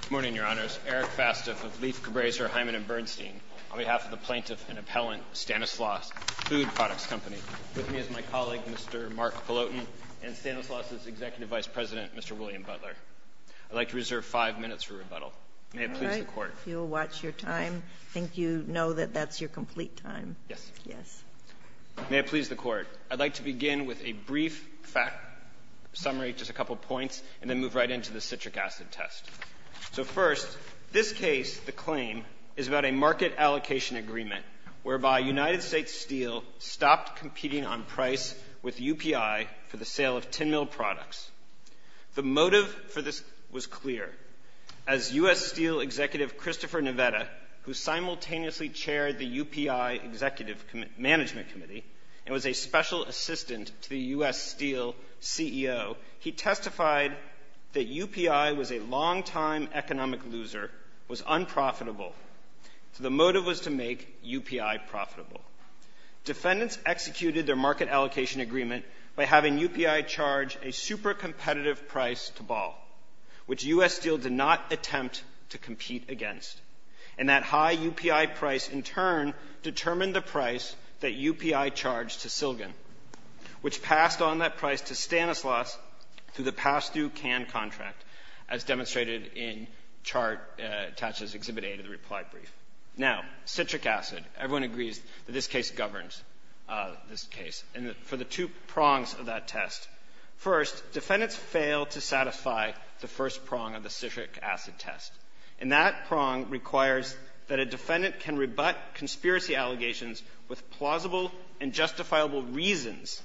Good morning, Your Honors. Eric Fastif of Leif, Cabreza, Hyman & Bernstein, on behalf of the plaintiff and appellant, Stanislaus Food Products Company, with me is my colleague, Mr. Mark Peloton, and Stanislaus' Executive Vice President, Mr. William Butler. I'd like to reserve five minutes for rebuttal. May it please the Court. All right. You'll watch your time. I think you know that that's your complete time. Yes. Yes. May it please the Court. I'd like to begin with a brief fact summary, just a couple of points, and then move right into the citric acid test. So first, this case, the claim, is about a market allocation agreement whereby United States Steel stopped competing on price with UPI for the sale of tin mill products. The motive for this was clear. As U.S. Steel Executive Christopher Neveda, who simultaneously chaired the UPI Executive Management Committee and was a special assistant to the U.S. Steel CEO, he testified that UPI was a long-time economic loser, was unprofitable. So the motive was to make UPI profitable. Defendants executed their market allocation agreement by having UPI charge a super competitive price to Ball, which U.S. Steel did not attempt to compete against. And that high UPI price, in turn, determined the price that UPI charged to Silgin, which passed on that price to Stanislaus through the pass-through CAN contract, as demonstrated in chart attached as Exhibit A to the reply brief. Now, citric acid. Everyone agrees that this case governs this case. And for the two prongs of that test, first, defendants fail to satisfy the first prong of the citric acid test. And that prong requires that a defendant can rebut conspiracy allegations with plausible and justifiable reasons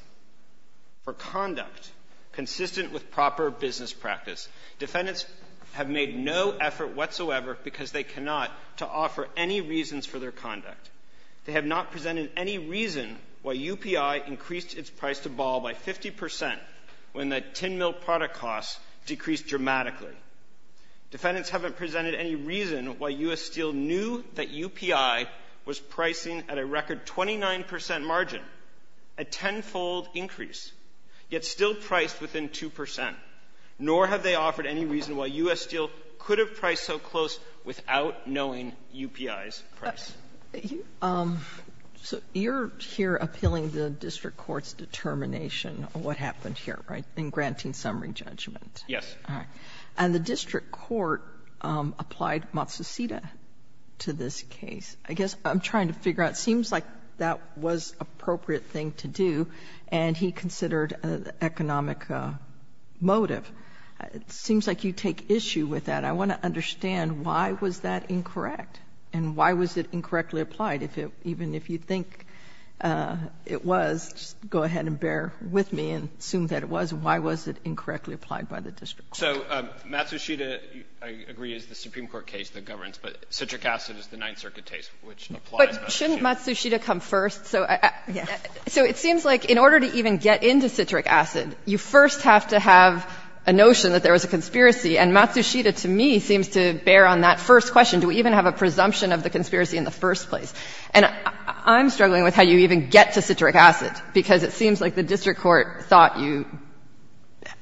for conduct consistent with proper business practice. Defendants have made no effort whatsoever, because they cannot, to offer any reasons for their conduct. They have not presented any reason why UPI increased its price to Ball by 50 percent when the tin mill product costs decreased dramatically. Defendants haven't presented any reason why U.S. Steel knew that UPI was pricing at a record 29 percent margin, a tenfold increase, yet still priced within 2 percent. Nor have they offered any reason why U.S. Steel could have priced so close without knowing UPI's price. So you're here appealing the district court's determination on what happened here, right, in granting summary judgment. Yes. All right. And the district court applied Matsushita to this case. I guess I'm trying to figure out, it seems like that was an appropriate thing to do, and he considered an economic motive. It seems like you take issue with that. I want to understand why was that incorrect, and why was it incorrectly applied? Even if you think it was, just go ahead and bear with me and assume that it was. Why was it incorrectly applied by the district court? So Matsushita, I agree, is the Supreme Court case that governs, but citric acid is the Ninth Circuit case, which applies Matsushita. But shouldn't Matsushita come first? So it seems like in order to even get into citric acid, you first have to have a notion that there was a conspiracy. And Matsushita, to me, seems to bear on that first question. Do we even have a presumption of the conspiracy in the first place? And I'm struggling with how you even get to citric acid, because it seems like the district court thought you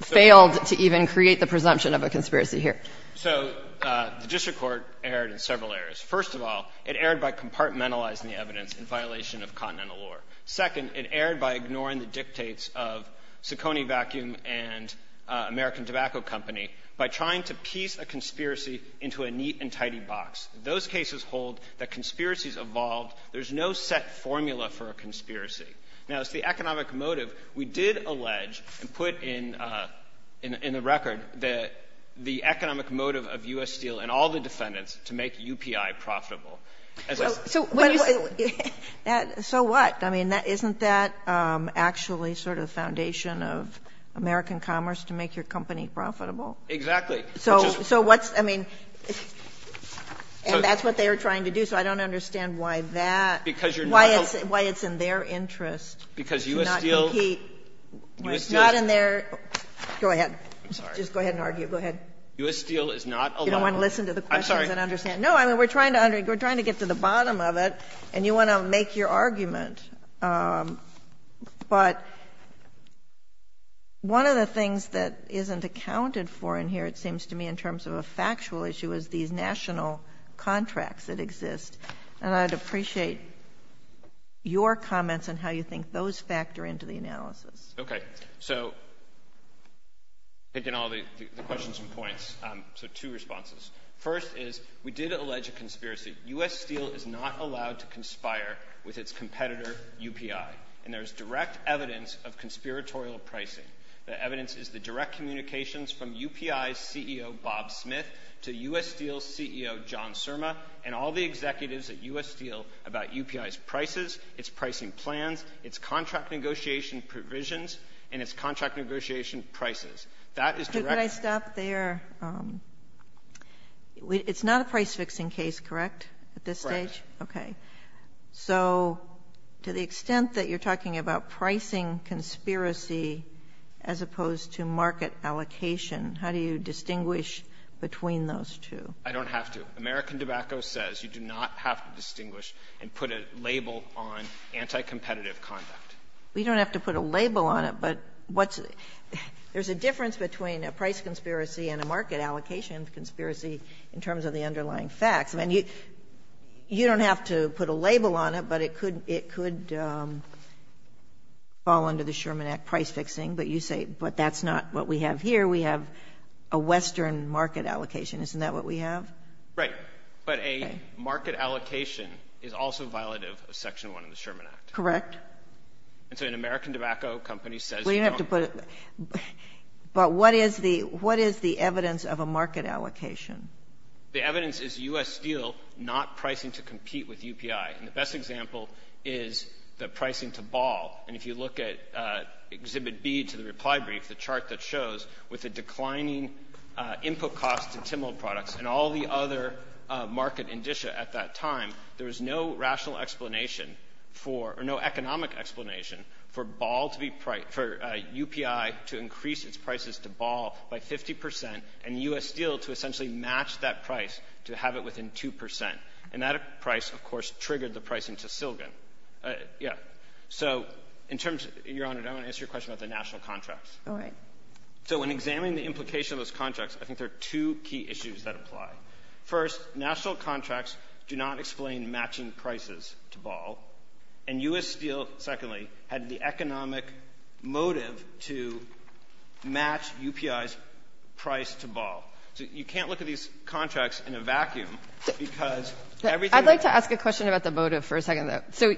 failed to even create the presumption of a conspiracy here. So the district court erred in several areas. First of all, it erred by compartmentalizing the evidence in violation of continental law. Second, it erred by ignoring the dictates of Ciccone Vacuum and American Tobacco Company by trying to piece a conspiracy into a neat and tidy box. Those cases hold that conspiracies evolved. There's no set formula for a conspiracy. Now, as to the economic motive, we did allege and put in the record that the economic motive of U.S. Steel and all the defendants to make UPI profitable. So what? I mean, isn't that actually sort of the foundation of American commerce to make your company profitable? Exactly. So what's – I mean – and that's what they are trying to do. So I don't understand why that – why it's in their interest to not compete. Because U.S. Steel – U.S. Steel is not allowed to – I'm sorry. Go ahead. Just go ahead and argue. Go ahead. U.S. Steel is not allowed to – I'm sorry. You don't want to listen to the questions and understand. No, I mean, we're trying to argue. We're trying to get to the bottom of it, and you want to make your argument. But one of the things that isn't accounted for in here, it seems to me, in terms of a factual issue is these national contracts that exist. And I'd appreciate your comments on how you think those factor into the analysis. Okay. So taking all the questions and points, so two responses. First is we did allege a conspiracy. U.S. Steel is not allowed to conspire with its competitor, UPI. And there is direct evidence of conspiratorial pricing. The evidence is the direct communications from UPI's CEO, Bob Smith, to U.S. Steel's CEO, John Surma, and all the executives at U.S. Steel about UPI's prices, its pricing plans, its contract negotiation provisions, and its contract negotiation prices. That is direct – Could I stop there? It's not a price-fixing case, correct, at this stage? Right. Okay. So to the extent that you're talking about pricing conspiracy as opposed to market allocation, how do you distinguish between those two? I don't have to. American Tobacco says you do not have to distinguish and put a label on anti-competitive conduct. We don't have to put a label on it, but what's – there's a difference between a price conspiracy and a market allocation conspiracy in terms of the underlying facts. I mean, you don't have to put a label on it, but it could fall under the Sherman Act price-fixing. But you say, but that's not what we have here. We have a western market allocation. Isn't that what we have? Right. But a market allocation is also violative of Section 1 of the Sherman Act. Correct. And so an American tobacco company says you don't – Well, you don't have to put – but what is the evidence of a market allocation? The evidence is U.S. Steel not pricing to compete with UPI. And the best example is the pricing to Ball. And if you look at Exhibit B to the reply brief, the chart that shows, with a declining input cost to Timmel Products and all the other market indicia at that time, there was no rational explanation for – or no economic explanation for Ball to be – for UPI to increase its prices to Ball by 50 percent and U.S. Steel to essentially match that price to have it within 2 percent. And that price, of course, triggered the pricing to Silgin. Yeah. So in terms – Your Honor, I want to answer your question about the national contracts. All right. So when examining the implication of those contracts, I think there are two key issues that apply. First, national contracts do not explain matching prices to Ball. And U.S. Steel, secondly, had the economic motive to match UPI's price to Ball. So you can't look at these contracts in a vacuum because everything that – I'd like to ask a question about the motive for a second, though. So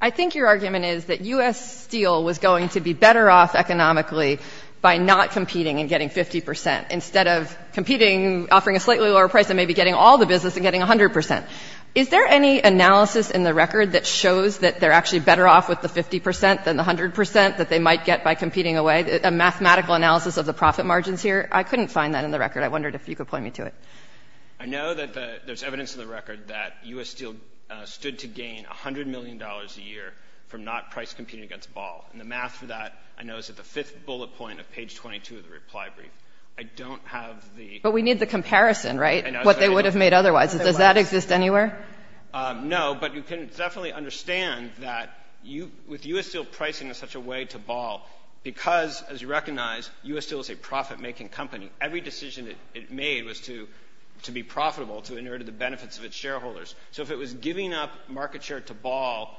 I think your argument is that U.S. Steel was going to be better off economically by not competing and getting 50 percent instead of competing, offering a slightly lower price, and maybe getting all the business and getting 100 percent. Is there any analysis in the record that shows that they're actually better off with the 50 percent than the 100 percent that they might get by competing away? A mathematical analysis of the profit margins here? I couldn't find that in the record. I wondered if you could point me to it. I know that the – there's evidence in the record that U.S. Steel stood to gain $100 million a year from not price competing against Ball. And the math for that, I know, is at the fifth bullet point of page 22 of the reply brief. I don't have the – But we need the comparison, right, what they would have made otherwise. Does that exist anywhere? No, but you can definitely understand that with U.S. Steel pricing in such a way to Ball, because, as you recognize, U.S. Steel is a profit-making company. Every decision it made was to be profitable, to inherit the benefits of its shareholders. So if it was giving up market share to Ball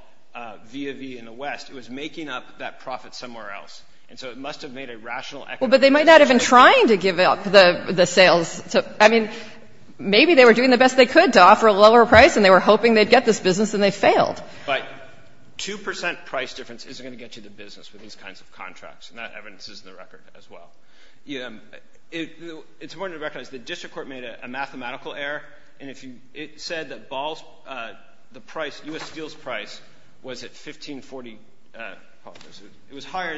via V in the West, it was making up that profit somewhere else. And so it must have made a rational equation. Well, but they might not have been trying to give up the sales. I mean, maybe they were doing the best they could to offer a lower price, and they were hoping they'd get this business, and they failed. But 2 percent price difference isn't going to get you the business with these kinds of contracts, and that evidence is in the record as well. It's important to recognize the district court made a mathematical error, and if you – it said that Ball's – the price, U.S. Steel's price was at 1540, it was higher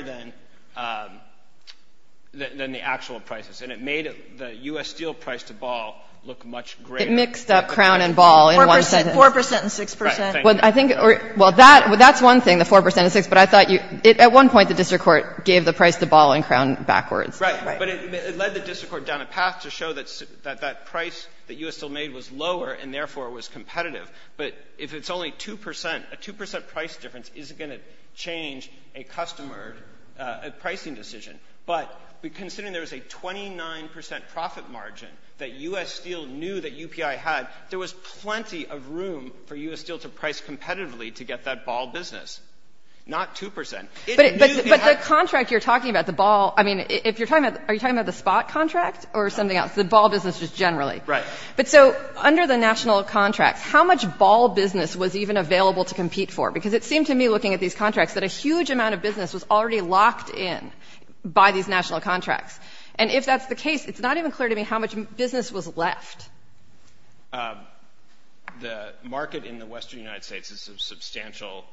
than the actual prices, and it made the U.S. Steel price to Ball look much greater. It mixed up Crown and Ball in one sentence. Four percent and six percent. Right. Thank you. Well, that's one thing, the four percent and six, but I thought you – at one point, the district court gave the price to Ball and Crown backwards. Right. But it led the district court down a path to show that that price that U.S. Steel made was lower and, therefore, was competitive. But if it's only 2 percent, a 2 percent price difference isn't going to change a customer – a pricing decision. But considering there was a 29 percent profit margin that U.S. Steel knew that UPI had, there was plenty of room for U.S. Steel to price competitively to get that Ball business, not 2 percent. But the contract you're talking about, the Ball – I mean, if you're talking about – are you talking about the Spot contract or something else, the Ball business just generally? Right. But so under the national contracts, how much Ball business was even available to compete for? Because it seemed to me, looking at these contracts, that a huge amount of business was already locked in by these national contracts. And if that's the case, it's not even clear to me how much business was left. The market in the Western United States is substantial,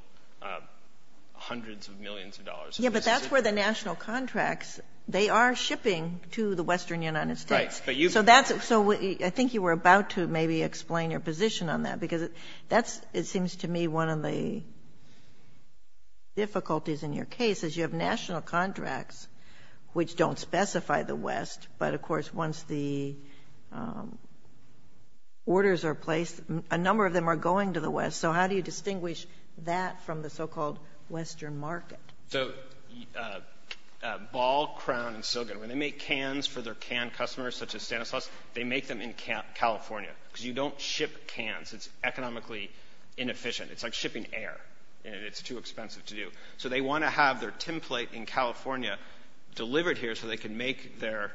hundreds of millions of dollars. Yeah, but that's where the national contracts – they are shipping to the Western United States. Right. But you've – So that's – so I think you were about to maybe explain your position on that, because that's – it seems to me one of the difficulties in your case is you have national contracts which don't specify the West, but of course, once the orders are placed, a number of them are going to the West. So how do you distinguish that from the so-called Western market? So Ball, Crown, and Silgon, when they make cans for their can customers, such as inefficient. It's like shipping air, and it's too expensive to do. So they want to have their tin plate in California delivered here so they can make their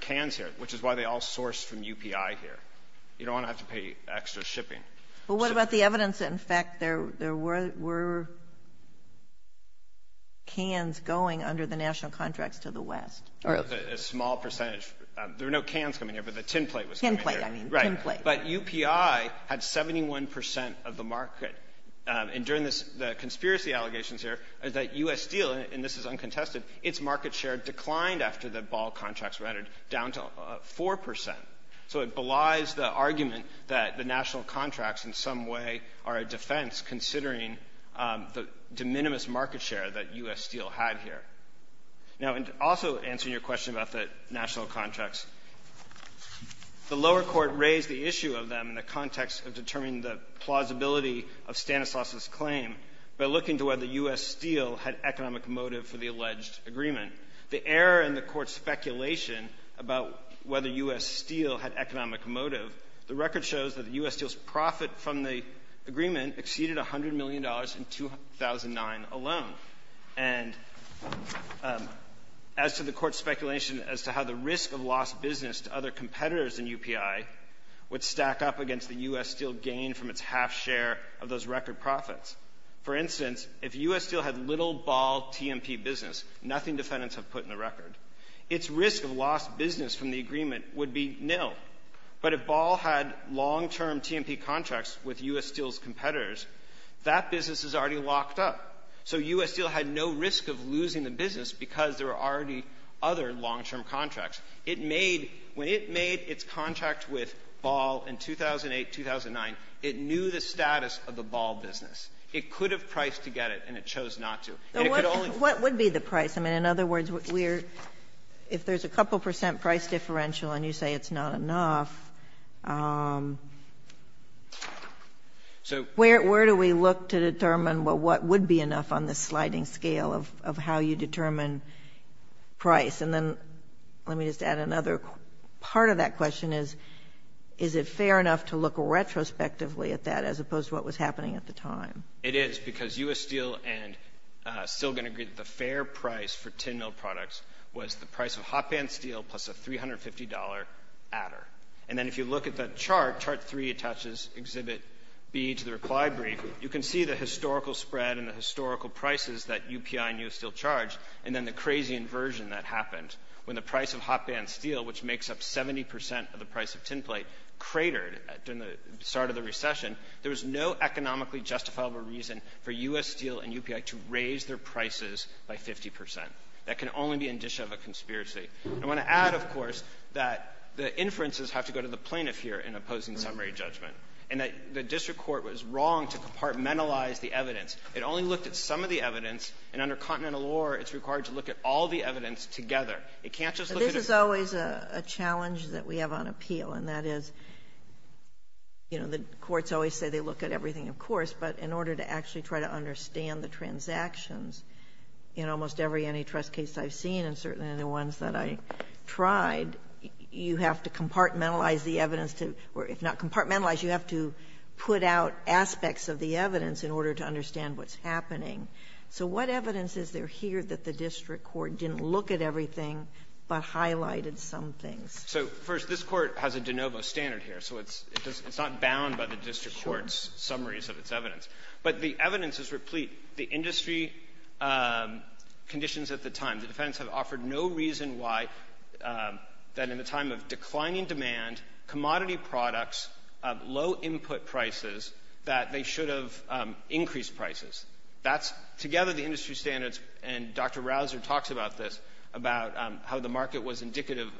cans here, which is why they all source from UPI here. You don't want to have to pay extra shipping. But what about the evidence that, in fact, there were cans going under the national contracts to the West? A small percentage – there were no cans coming here, but the tin plate was coming here. Tin plate, I mean. Tin plate. But UPI had 71 percent of the market. And during this – the conspiracy allegations here is that U.S. Steel – and this is uncontested – its market share declined after the Ball contracts were entered, down to 4 percent. So it belies the argument that the national contracts in some way are a defense, considering the de minimis market share that U.S. Steel had here. Now, and also answering your question about the national contracts, the lower court raised the issue of them in the context of determining the plausibility of Stanislaus's claim by looking to whether U.S. Steel had economic motive for the alleged agreement. The error in the court's speculation about whether U.S. Steel had economic motive, the record shows that U.S. Steel's profit from the agreement exceeded $100 million in 2009 alone. And as to the court's competitors in UPI would stack up against the U.S. Steel gain from its half share of those record profits. For instance, if U.S. Steel had little Ball TMP business, nothing defendants have put in the record, its risk of lost business from the agreement would be nil. But if Ball had long-term TMP contracts with U.S. Steel's competitors, that business is already locked up. So U.S. Steel had no risk of losing the business because there were already other long-term contracts. It made — when it made its contract with Ball in 2008, 2009, it knew the status of the Ball business. It could have priced to get it, and it chose not to. And it could only — What would be the price? I mean, in other words, we're — if there's a couple percent price differential and you say it's not enough, where do we look to determine, well, what would be enough on the sliding scale of how you determine price? And then let me just add another part of that question is, is it fair enough to look retrospectively at that as opposed to what was happening at the time? It is, because U.S. Steel and Stilgen agreed that the fair price for 10-mil products was the price of hotband steel plus a $350 adder. And then if you look at the chart, chart three attaches Exhibit B to the reply brief, you can see the historical spread and the crazy inversion that happened. When the price of hotband steel, which makes up 70 percent of the price of tinplate, cratered during the start of the recession, there was no economically justifiable reason for U.S. Steel and UPI to raise their prices by 50 percent. That can only be indicia of a conspiracy. I want to add, of course, that the inferences have to go to the plaintiff here in opposing summary judgment, and that the district court was wrong to compartmentalize the evidence. It only looked at some of the evidence, and under continental law, it's required to look at all the evidence together. It can't just look at a — But this is always a challenge that we have on appeal, and that is, you know, the courts always say they look at everything, of course, but in order to actually try to understand the transactions in almost every antitrust case I've seen, and certainly the ones that I tried, you have to compartmentalize the evidence to — or if not compartmentalize, you have to put out aspects of the evidence in the case. So what evidence is there here that the district court didn't look at everything but highlighted some things? So, first, this court has a de novo standard here, so it's not bound by the district court's summaries of its evidence. But the evidence is replete. The industry conditions at the time, the defendants have offered no reason why that in the time of declining demand, commodity products, low input prices, that they should have increased prices. That's together the industry standards, and Dr. Rausser talks about this, about how the market was indicative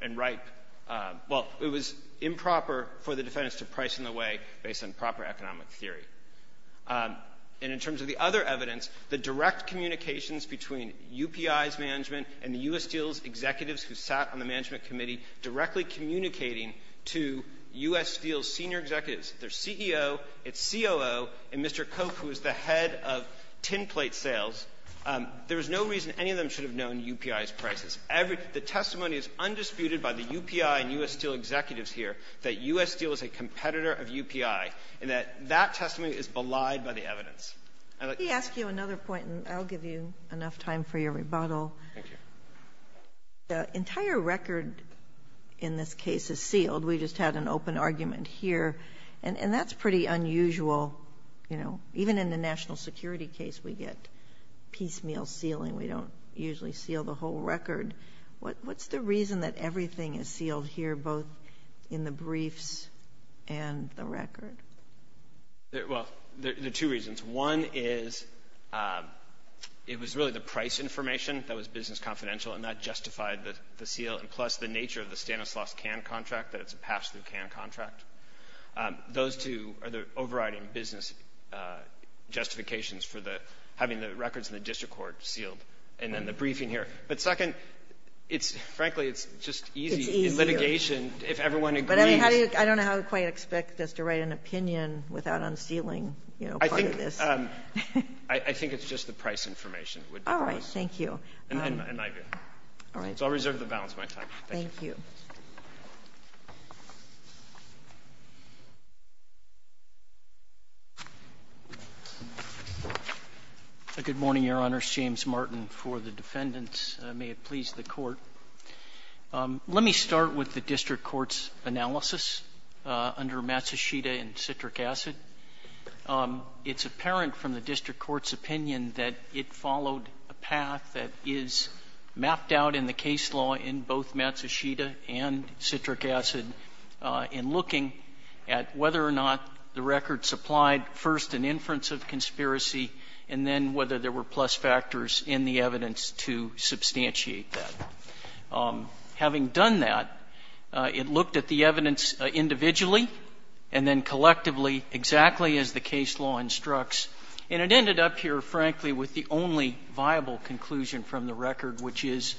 and ripe — well, it was improper for the defendants to price in a way based on proper economic theory. And in terms of the other evidence, the direct communications between UPI's management and the U.S. Steel's executives who sat on the management committee directly communicating to U.S. Steel's senior executives, their CEO, its COO, and Mr. Koch, who is the head of tinplate sales, there is no reason any of them should have known UPI's prices. Every — the testimony is undisputed by the UPI and U.S. Steel executives here that U.S. Steel is a competitor of UPI, and that that testimony is belied by the evidence. I'd like — Let me ask you another point, and I'll give you enough time for your rebuttal. Thank you. The entire record in this case is sealed. We just had an open argument here. And that's pretty unusual. You know, even in the national security case, we get piecemeal sealing. We don't usually seal the whole record. What's the reason that everything is sealed here, both in the briefs and the record? Well, there are two reasons. One is it was really the price information that was business confidential, and that justified the seal, and plus the nature of the overriding business justifications for the — having the records in the district court sealed, and then the briefing here. But second, it's — frankly, it's just easy — It's easier. — in litigation, if everyone agrees. But I mean, how do you — I don't know how to quite expect us to write an opinion without unsealing, you know, part of this. I think — I think it's just the price information would be the price. All right. Thank you. And my view. All right. So I'll reserve the balance of my time. Thank you. Thank you. A good morning, Your Honor. It's James Martin for the defendants. May it please the Court. Let me start with the district court's analysis under Matsushita and citric acid. It's apparent from the district court's opinion that it followed a path that is mapped out in the case law in both Matsushita and citric acid in looking at whether or not the record supplied first an inference of conspiracy and then whether there were plus factors in the evidence to substantiate that. Having done that, it looked at the evidence individually and then collectively exactly as the case law instructs. And it ended up here, frankly, with the only viable conclusion from the record, which is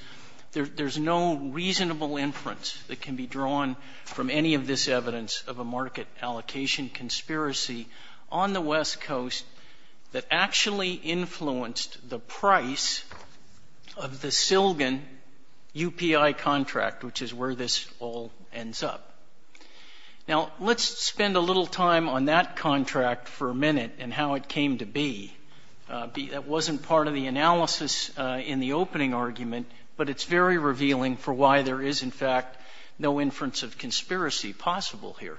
there's no reasonable inference that any of this evidence of a market allocation conspiracy on the West Coast that actually influenced the price of the Silgen UPI contract, which is where this all ends up. Now, let's spend a little time on that contract for a minute and how it came to be. That wasn't part of the analysis in the opening argument, but it's very revealing for why there is, in fact, no inference of conspiracy possible here.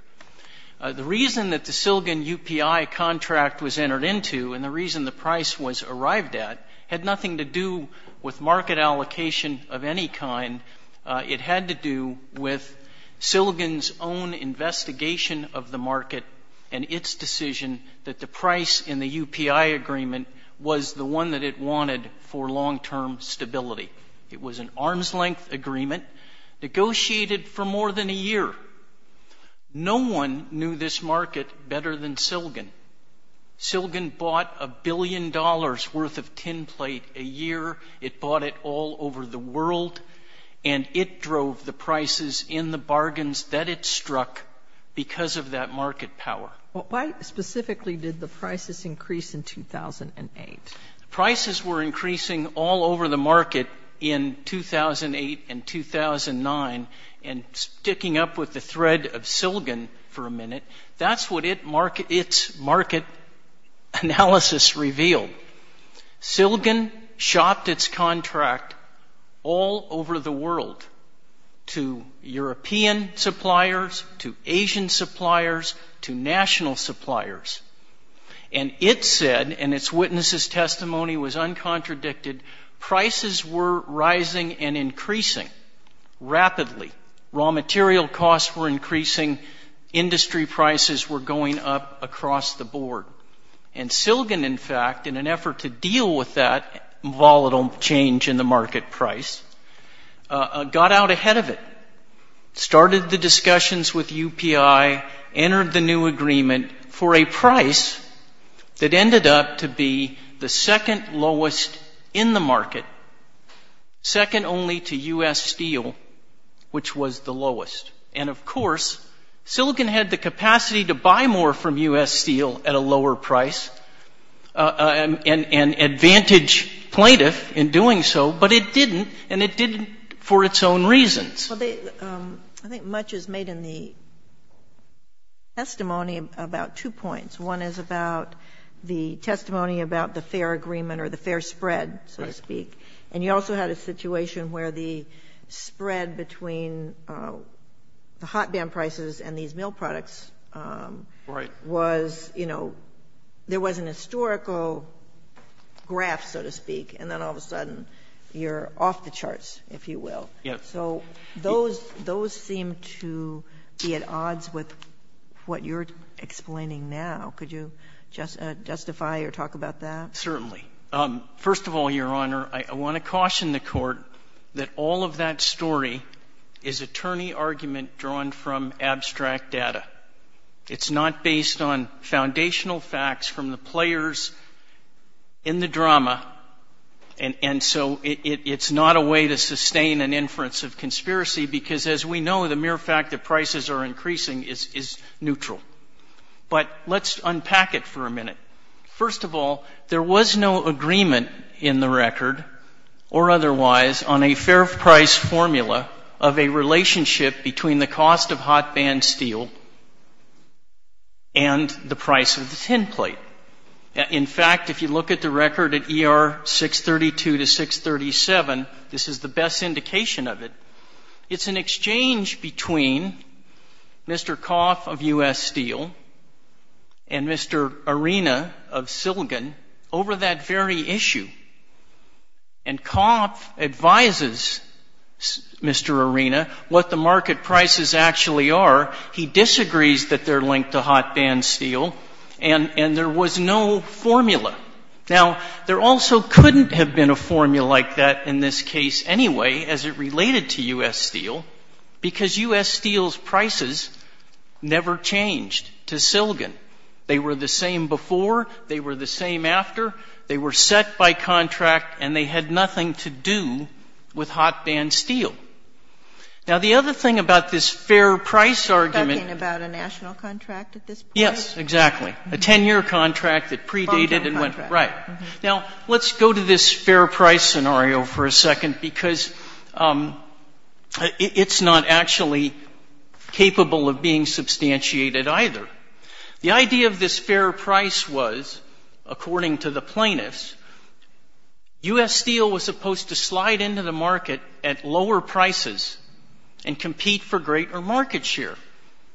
The reason that the Silgen UPI contract was entered into and the reason the price was arrived at had nothing to do with market allocation of any kind. It had to do with Silgen's own investigation of the market and its decision that the price in the UPI agreement was the one that it wanted for long-term stability. It was an arm's-length agreement negotiated for more than a year. No one knew this market better than Silgen. Silgen bought a billion dollars' worth of tin plate a year. It bought it all over the world. And it drove the prices in the bargains that it struck because of that market power. Sotomayor, why specifically did the prices increase in 2008? Prices were increasing all over the market in 2008 and 2009. And sticking up with the thread of Silgen for a minute, that's what its market analysis revealed. Silgen shopped its contract all over the world to European suppliers, to Asian suppliers, to national suppliers. And it said, and its witnesses' testimony was uncontradicted, prices were rising and increasing rapidly. Raw material costs were increasing. Industry prices were going up across the board. And Silgen, in fact, in an effort to deal with that volatile change in the market price, got out ahead of it, started the discussions with UPI, entered the new agreement for a price that ended up to be the second lowest in the market, second only to U.S. steel, which was the lowest. And of course, Silgen had the capacity to buy more from U.S. steel at a lower price and advantage plaintiff in doing so, but it didn't, and it didn't for its own reasons. I think much is made in the testimony about two points. One is about the testimony about the fair agreement or the fair spread, so to speak. And you also had a situation where the spread between the hot band prices and these mill products was, you know, there was an historical graph, so to speak, and then all of a sudden you're off the charts, if you will. So those seem to be at odds with what you're explaining now. Could you justify or talk about that? Certainly. First of all, Your Honor, I want to caution the Court that all of that story is attorney argument drawn from abstract data. It's not based on foundational facts from the players in the drama, and so it's not a way to sustain an inference of conspiracy because, as we know, the mere fact that prices are increasing is neutral. But let's unpack it for a minute. First of all, there was no agreement in the record or otherwise on a fair price formula of a relationship between the cost of hot band steel and the price of the tinplate. In fact, if you look at the record at ER 632 to 637, this is the best indication of it. It's an exchange between Mr. Coff of U.S. Steel and Mr. Arena of Silgan over that very issue. And Coff advises Mr. Arena what the market prices actually are. He disagrees that they're linked to hot band steel, and there was no formula. Now, there also couldn't have been a formula like that in this case anyway as it related to U.S. Steel because U.S. Steel's prices never changed to Silgan. They were the same before, they were the same after, they were set by contract, and they had nothing to do with hot band steel. Now, the other thing about this fair price argument... You're talking about a national contract at this point? Yes, exactly. A 10-year contract that predated and went... A long-term contract. Right. Now, let's go to this fair price scenario for a second because it's not actually capable of being substantiated either. The idea of this fair price was, according to the plaintiffs, U.S. Steel was supposed to slide into the market at lower prices and compete for greater market share.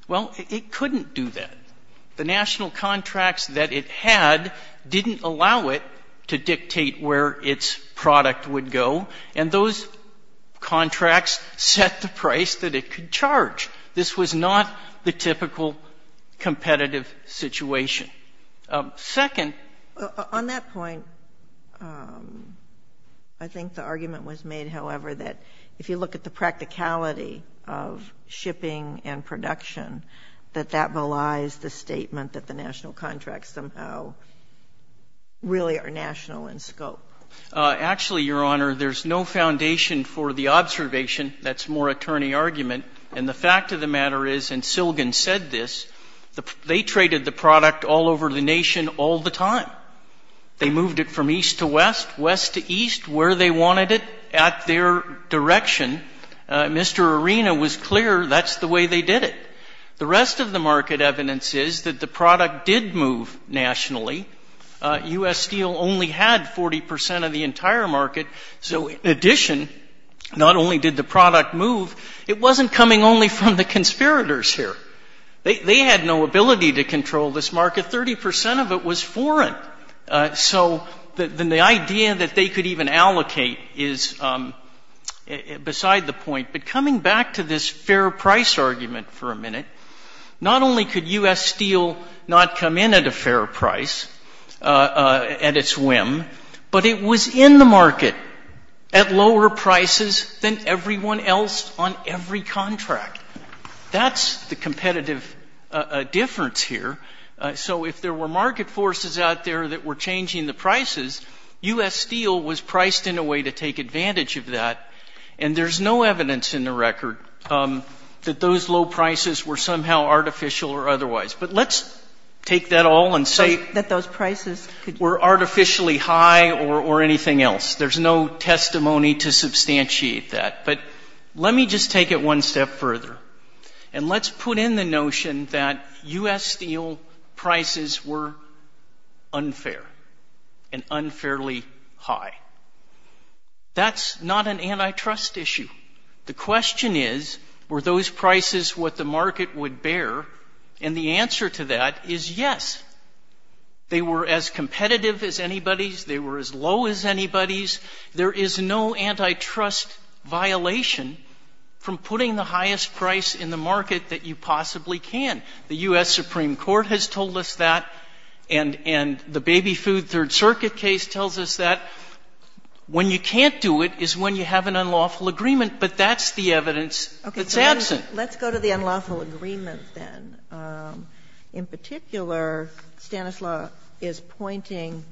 Well, it couldn't do that. The national contracts that it had didn't allow it to dictate where its product would go, and those contracts set the price that it could charge. This was not the typical competitive situation. Second... On that point, I think the argument was made, however, that if you look at the practicality of shipping and production, that that belies the statement that the national contracts somehow really are national in scope. Actually, Your Honor, there's no foundation for the observation that's more attorney argument, and the fact of the matter is, and Silgan said this, they traded the product all over the nation all the time. They moved it from east to west, west to east, where they wanted it, at their direction. Mr. Arena was clear that's the way they did it. The rest of the market evidence is that the product did move nationally. U.S. Steel only had 40 percent of the entire market, so in addition, not only did the product move, it wasn't coming only from the conspirators here. They had no ability to control this market. Thirty percent of it was foreign, so the idea that they could even allocate is beside the point. But coming back to this fair price argument for a minute, not only could U.S. Steel not come in at a fair price, at its whim, but it was in the market at lower prices than everyone else on every contract. That's the competitive difference here. So if there were market forces out there that were changing the prices, U.S. Steel was priced in a way to take advantage of that, and there's no evidence in the record that those low prices were somehow artificial or otherwise. But let's take that all and say we're artificially high or anything else. There's no testimony to substantiate that. But let me just take it one step further, and let's put in the notion that U.S. Steel prices were unfair and unfairly high. That's not an antitrust issue. The question is were those prices what the market would bear, and the answer to that is yes. They were as competitive as anybody's. They were as low as anybody's. There is no antitrust violation from putting the highest price in the market that you possibly can. The U.S. Supreme Court has told us that, and the Baby Food Third Circuit case tells us that. When you can't do it is when you have an unlawful agreement, but that's the evidence that's absent. Let's go to the unlawful agreement then. In particular, Stanislaus is pointing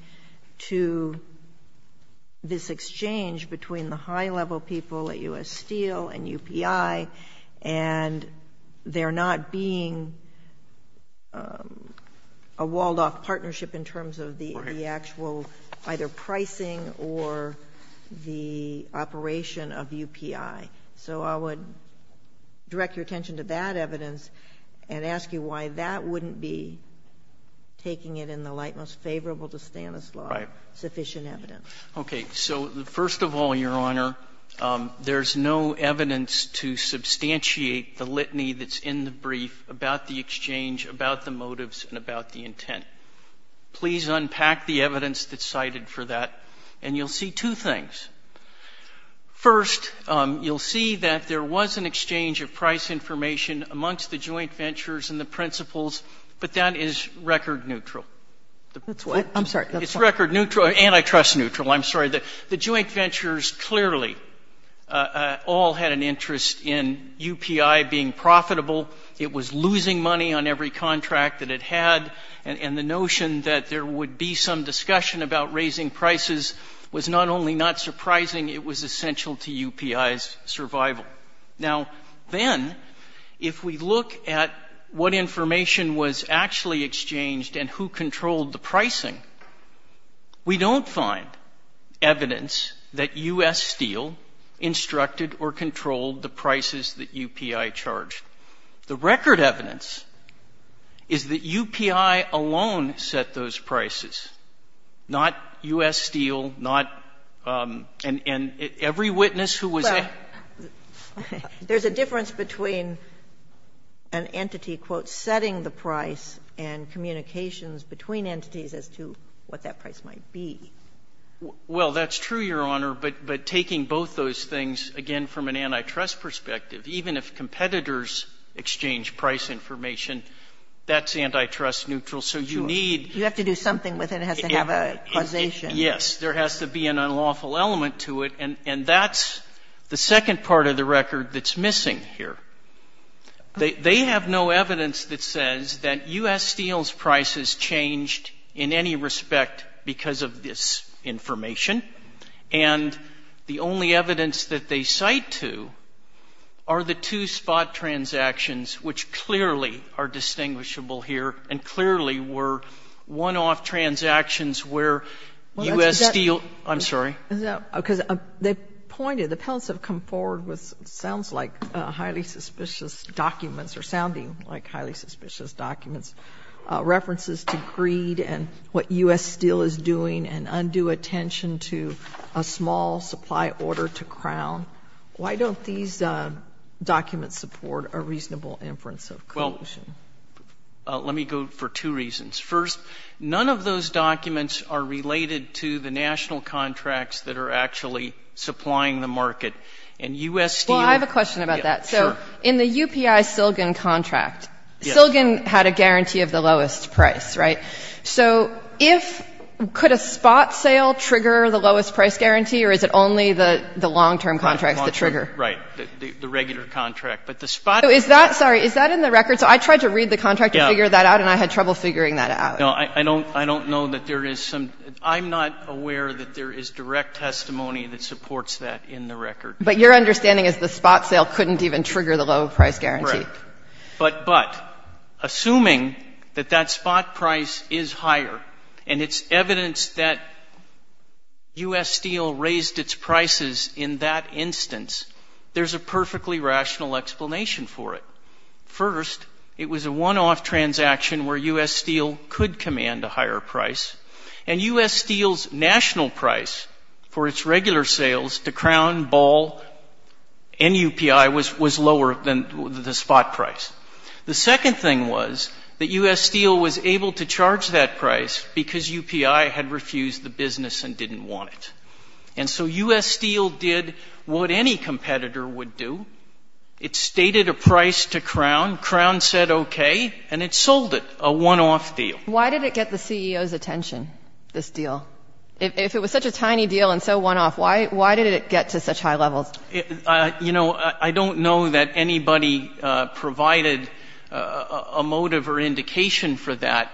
to this exchange between the high-level people at U.S. Steel and UPI, and there not being a walled-off partnership in terms of the actual either pricing or the operation of UPI. So I would direct your attention to that evidence and ask you why that wouldn't be taking it in the light most favorable to Stanislaus sufficient evidence. Okay. So first of all, Your Honor, there's no evidence to substantiate the litany that's in the brief about the exchange, about the motives, and about the intent. Please unpack the evidence that's cited for that, and you'll see two things. First, you'll see that there was an exchange of price information amongst the joint ventures and the principals, but that is record neutral. I'm sorry. It's record neutral and I trust neutral. I'm sorry. The joint ventures clearly all had an interest in UPI being profitable. It was losing money on every contract that it had, and the notion that there would be some discussion about raising prices was not only not surprising, it was essential to UPI's survival. Now, then, if we look at what information was actually exchanged and who controlled the pricing, we don't find evidence that U.S. Steel instructed or controlled the prices that UPI charged. The record evidence is that UPI alone set those prices, not U.S. Steel, not and every witness who was there. Well, there's a difference between an entity, quote, setting the price and communications between entities as to what that price might be. Well, that's true, Your Honor, but taking both those things, again, from an antitrust perspective, even if competitors exchange price information, that's antitrust neutral. So you need You have to do something with it. It has to have a causation. Yes. There has to be an unlawful element to it, and that's the second part of the record that's missing here. They have no evidence that says that U.S. Steel's prices changed in any respect because of this information, and the only evidence that they cite to are the two spot transactions, which clearly are distinguishable here and clearly were one-off transactions where U.S. Steel Well, that's exactly I'm sorry. Is that because they pointed, the penalts have come forward with what sounds like highly suspicious documents or sounding like highly suspicious documents, references to greed and what U.S. Steel is doing and undue attention to a small supply order to Crown. Why don't these documents support a reasonable inference of collusion? Well, let me go for two reasons. First, none of those documents are related to the national contracts that are actually supplying the market, and U.S. Steel Well, I have a question about that. Sure. So in the UPI-Silgin contract, Silgin had a guarantee of the lowest price, right? So if — could a spot sale trigger the lowest price guarantee, or is it only the long-term contracts that trigger? Right. The regular contract. But the spot Is that — sorry, is that in the record? So I tried to read the contract to figure that out, and I had trouble figuring that out. No, I don't know that there is some — I'm not aware that there is direct testimony that supports that in the record. But your understanding is the spot sale couldn't even trigger the lowest price guarantee. Correct. But assuming that that spot price is higher, and it's evidence that U.S. Steel raised its prices in that instance, there's a perfectly rational explanation for it. First, it was a one-off transaction where U.S. Steel could command a higher price, and U.S. Steel's national price for its regular sales to Crown, Ball, and UPI was lower than the spot price. The second thing was that U.S. Steel was able to charge that price because UPI had refused the business and didn't want it. And so U.S. Steel did what any competitor would do. It stated a price to Crown. Crown said OK, and it sold it, a one-off deal. Why did it get the CEO's attention, this deal? If it was such a tiny deal and so one-off, why did it get to such high levels? You know, I don't know that anybody provided a motive or indication for that.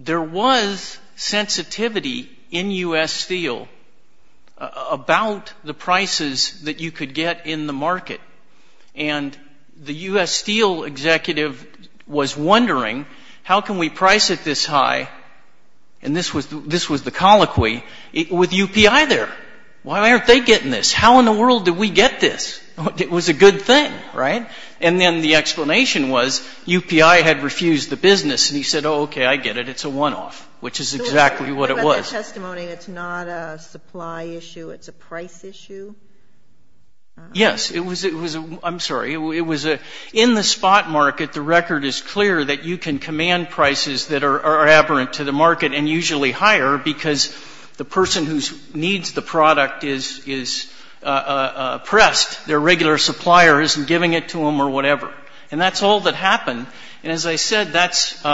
There was sensitivity in U.S. Steel about the prices that you could get in the market. And the U.S. Steel executive was wondering, how can we price it this high, and this was the colloquy, with UPI there? Why aren't they getting this? How in the world did we get this? It was a good thing, right? And then the explanation was UPI had refused the business, and he said, OK, I get it. It's a one-off, which is exactly what it was. But the testimony, it's not a supply issue. It's a price issue? Yes. It was a – I'm sorry. It was a – in the spot market, the record is clear that you can command prices that are aberrant to the market and usually higher because the person who needs the product is oppressed. Their regular supplier isn't giving it to them or whatever. And that's all that happened. And as I said, that's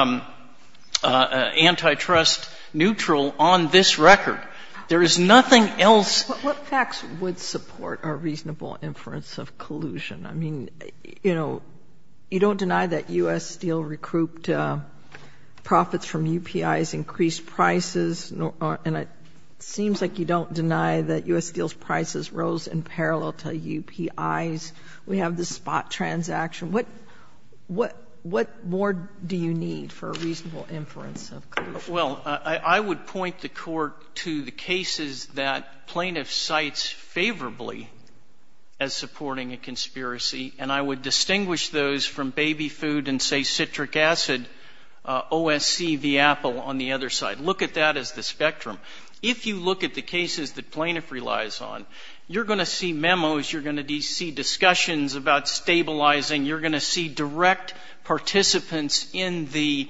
antitrust neutral on this record. There is nothing else. But what facts would support a reasonable inference of collusion? I mean, you know, you don't deny that U.S. Steel recouped profits from UPI's increased prices, and it seems like you don't deny that U.S. Steel's prices rose in parallel to UPI's. We have this spot transaction. What more do you need for a reasonable inference of collusion? Well, I would point the Court to the cases that plaintiffs cite favorably as supporting a conspiracy, and I would distinguish those from baby food and, say, citric acid, OSC v. Apple on the other side. Look at that as the spectrum. If you look at the cases that plaintiff relies on, you're going to see memos, you're going to see discussions about stabilizing, you're going to see direct participants in the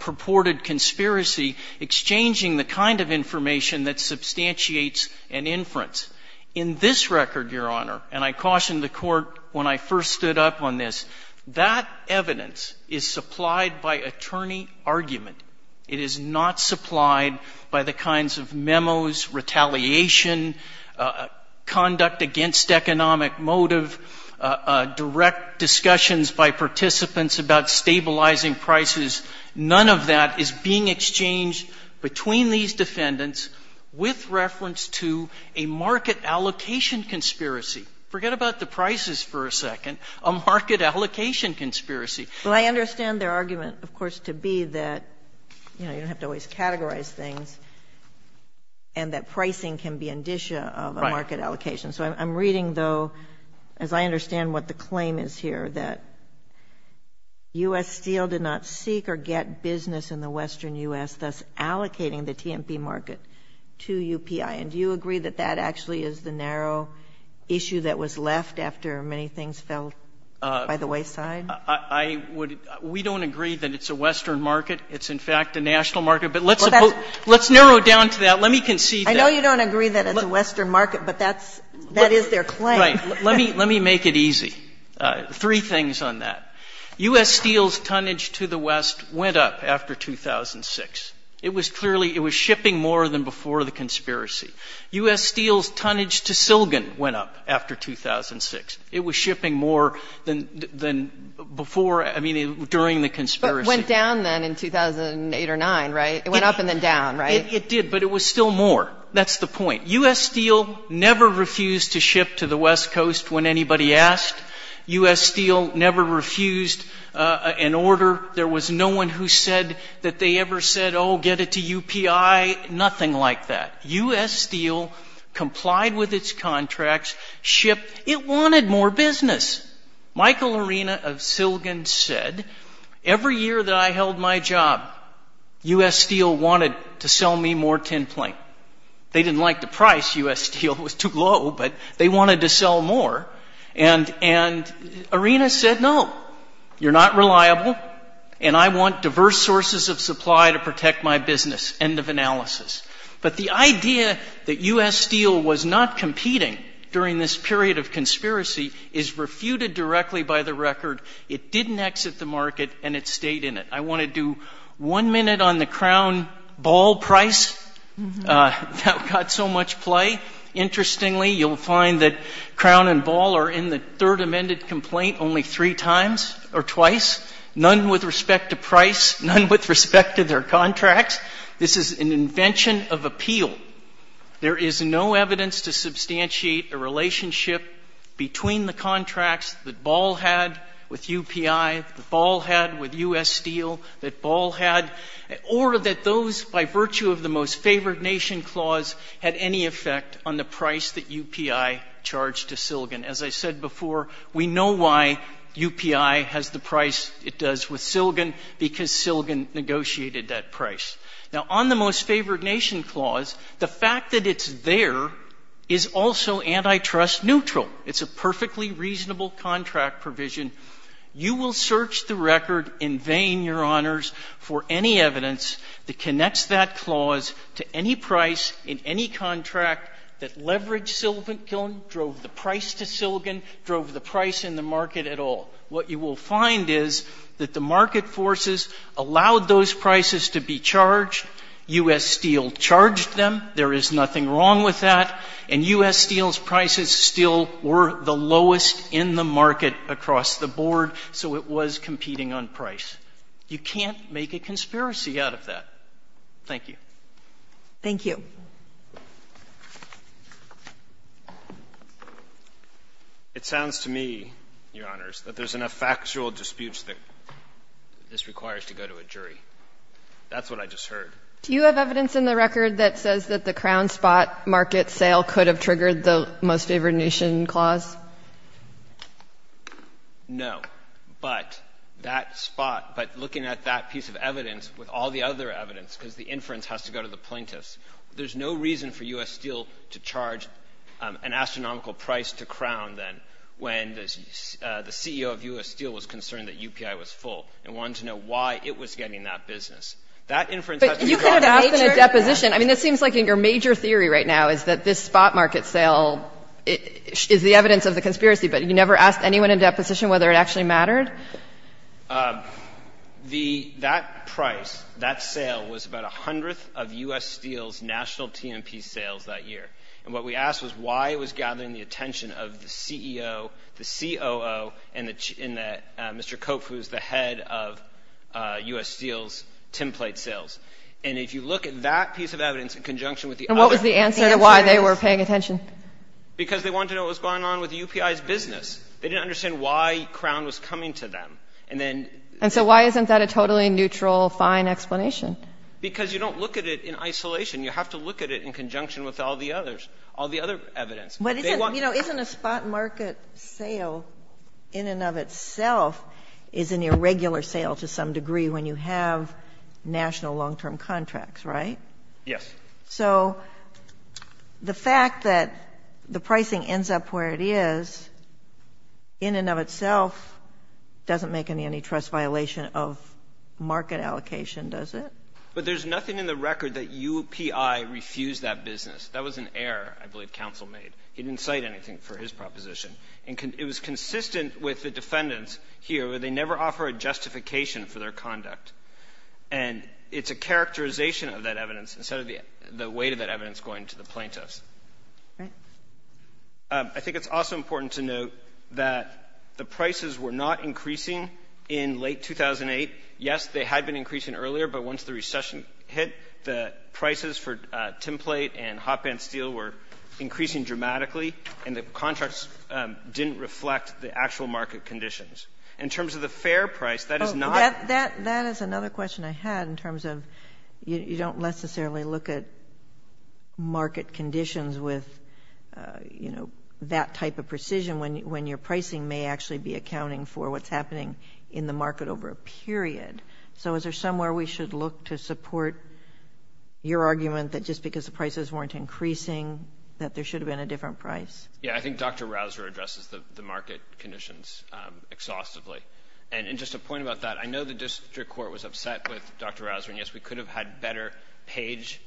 purported conspiracy exchanging the kind of information that substantiates an inference. In this record, Your Honor, and I cautioned the Court when I first stood up on this, that evidence is supplied by attorney argument. It is not supplied by the kinds of memos, retaliation, conduct against economic motive, direct discussions by participants about stabilizing prices. None of that is being exchanged between these defendants with reference to a market allocation conspiracy. Forget about the prices for a second. A market allocation conspiracy. Well, I understand their argument, of course, to be that, you know, you don't have to always categorize things, and that pricing can be indicia of a market allocation. So I'm reading, though, as I understand what the claim is here, that U.S. Steel did not seek or get business in the Western U.S., thus allocating the T&P market to UPI. And do you agree that that actually is the narrow issue that was left after many things fell by the wayside? We don't agree that it's a Western market. It's, in fact, a national market. But let's narrow down to that. Let me concede that. I know you don't agree that it's a Western market, but that is their claim. Right. Let me make it easy. Three things on that. U.S. Steel's tonnage to the West went up after 2006. It was clearly, it was shipping more than before the conspiracy. U.S. Steel's tonnage to Silgon went up after 2006. It was shipping more than before, I mean, during the conspiracy. But went down then in 2008 or 2009, right? It went up and then down, right? It did, but it was still more. That's the point. U.S. Steel never refused to ship to the West Coast when anybody asked. U.S. Steel never refused an order. There was no one who said that they ever said, oh, get it to UPI. Nothing like that. U.S. Steel complied with its contracts, shipped. It wanted more business. Michael Arena of Silgon said, every year that I held my job, U.S. Steel wanted to sell me more tinplate. They didn't like the price. U.S. Steel was too low, but they wanted to sell more. And Arena said, no, you're not reliable, and I want diverse sources of supply to protect my business. End of analysis. But the idea that U.S. Steel was not competing during this period of conspiracy is refuted directly by the record. It didn't exit the market, and it stayed in it. I want to do one minute on the crown ball price that got so much play. Interestingly, you'll find that crown and ball are in the third amended complaint only three times or twice, none with respect to price, none with respect to their contracts. This is an invention of appeal. There is no evidence to substantiate a relationship between the contracts that ball had with UPI, that ball had with U.S. Steel, that ball had, or that those by virtue of the Most Favored Nation Clause had any effect on the price that UPI charged to Silgan. As I said before, we know why UPI has the price it does with Silgan, because Silgan negotiated that price. Now, on the Most Favored Nation Clause, the fact that it's there is also antitrust neutral. It's a perfectly reasonable contract provision. You will search the record in vain, Your Honors, for any evidence that connects that clause to any price in any contract that leveraged Silgan, drove the price to Silgan, drove the price in the market at all. What you will find is that the market forces allowed those prices to be charged. U.S. Steel charged them. There is nothing wrong with that. And U.S. Steel's prices still were the lowest in the market across the board, so it was competing on price. You can't make a conspiracy out of that. Thank you. Thank you. It sounds to me, Your Honors, that there's enough factual disputes that this requires to go to a jury. That's what I just heard. Do you have evidence in the record that says that the crown spot market sale could have triggered the Most Favored Nation Clause? No. But that spot, but looking at that piece of evidence with all the other evidence, because the inference has to go to the plaintiffs, there's no reason for U.S. Steel to charge an astronomical price to Crown when the CEO of U.S. Steel was concerned that UPI was full and wanted to know why it was getting that business. That inference has to go to the plaintiffs. But you could have asked in a deposition. I mean, it seems like your major theory right now is that this spot market sale is the evidence of the conspiracy, but you never asked anyone in a deposition whether it actually mattered? The — that price, that sale was about a hundredth of U.S. Steel's national T&P sales that year. And what we asked was why it was gathering the attention of the CEO, the COO, and the — Mr. Cope, who is the head of U.S. Steel's template sales. And if you look at that piece of evidence in conjunction with the other — And what was the answer to why they were paying attention? Because they wanted to know what was going on with UPI's business. They didn't understand why Crown was coming to them. And then — And so why isn't that a totally neutral, fine explanation? Because you don't look at it in isolation. You have to look at it in conjunction with all the others, all the other evidence. But isn't — you know, isn't a spot market sale in and of itself is an irregular sale to some degree when you have national long-term contracts, right? Yes. So the fact that the pricing ends up where it is in and of itself doesn't make an antitrust violation of market allocation, does it? But there's nothing in the record that UPI refused that business. That was an error, I believe, counsel made. He didn't cite anything for his proposition. And it was consistent with the defendants here, where they never offer a justification for their conduct. And it's a characterization of that evidence instead of the weight of that evidence going to the plaintiffs. All right. I think it's also important to note that the prices were not increasing in late 2008. Yes, they had been increasing earlier, but once the recession hit, the prices for template and hotbed steel were increasing dramatically, and the contracts didn't reflect the actual market conditions. In terms of the fair price, that is not — That is another question I had in terms of you don't necessarily look at market conditions with, you know, that type of precision when your pricing may actually be accounting for what's happening in the market over a period. So is there somewhere we should look to support your argument that just because the prices weren't increasing, that there should have been a different price? Yeah. I think Dr. Rouser addresses the market conditions exhaustively. And just a point about that, I know the district court was upset with Dr. Rouser, and yes, we could have had better page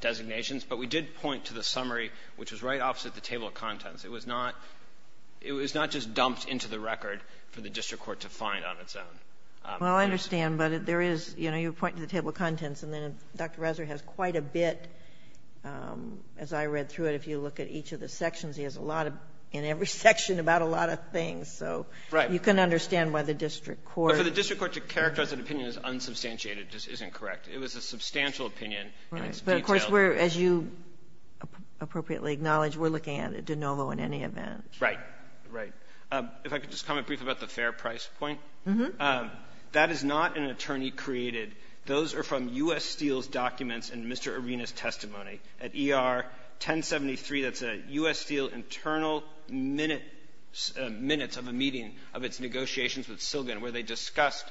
designations, but we did point to the summary, which was right opposite the table of contents. It was not — it was not just dumped into the record for the district court to find on its own. Well, I understand. But there is — you know, you were pointing to the table of contents, and then Dr. Rouser has quite a bit, as I read through it, if you look at each of the sections, he has a lot of — in every section about a lot of things. So you can understand why the district court — But for the district court to characterize an opinion as unsubstantiated just isn't It was a substantial opinion, and it's detailed. Right. But, of course, we're — as you appropriately acknowledge, we're looking at de novo in any event. Right. Right. If I could just comment briefly about the fair price point. Mm-hmm. That is not an attorney created. Those are from U.S. Steel's documents and Mr. Arena's testimony. At ER 1073, that's a U.S. Steel internal minute — minutes of a meeting of its negotiations with Silgan, where they discussed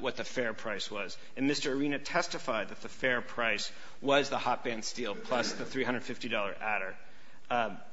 what the fair price was. And Mr. Arena testified that the fair price was the hot band steel plus the $350 adder.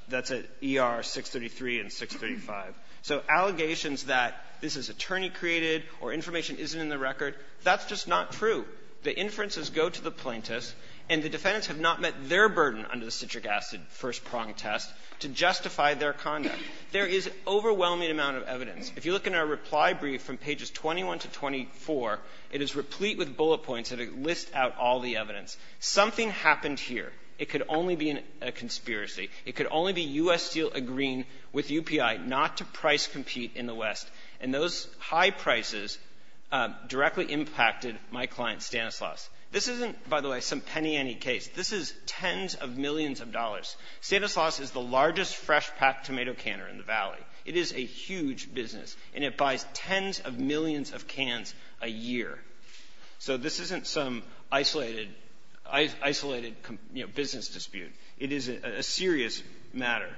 That's at ER 633 and 635. So allegations that this is attorney created or information isn't in the record, that's just not true. The inferences go to the plaintiffs, and the defendants have not met their burden under the citric acid first prong test to justify their conduct. There is overwhelming amount of evidence. If you look in our reply brief from pages 21 to 24, it is replete with bullet points that list out all the evidence. Something happened here. It could only be a conspiracy. It could only be U.S. Steel agreeing with UPI not to price compete in the West, and those high prices directly impacted my client Stanislaus. This isn't, by the way, some penny-ante case. This is tens of millions of dollars. Stanislaus is the largest fresh-packed tomato canner in the Valley. It is a huge business, and it buys tens of millions of cans a year. So this isn't some isolated, you know, business dispute. It is a serious matter.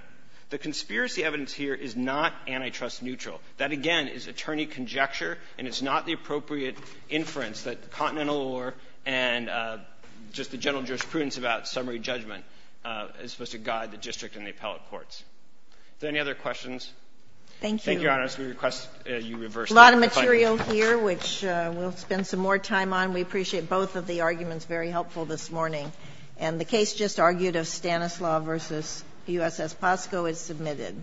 The conspiracy evidence here is not antitrust neutral. That, again, is attorney conjecture, and it's not the appropriate inference that the Continental Law and just the general jurisprudence about summary judgment is supposed to guide the district and the appellate courts. Are there any other questions? Thank you. Thank you, Your Honors. We request you reverse that. There's a lot of material here, which we'll spend some more time on. We appreciate both of the arguments. Very helpful this morning. And the case just argued of Stanislaus v. USS Posco is submitted.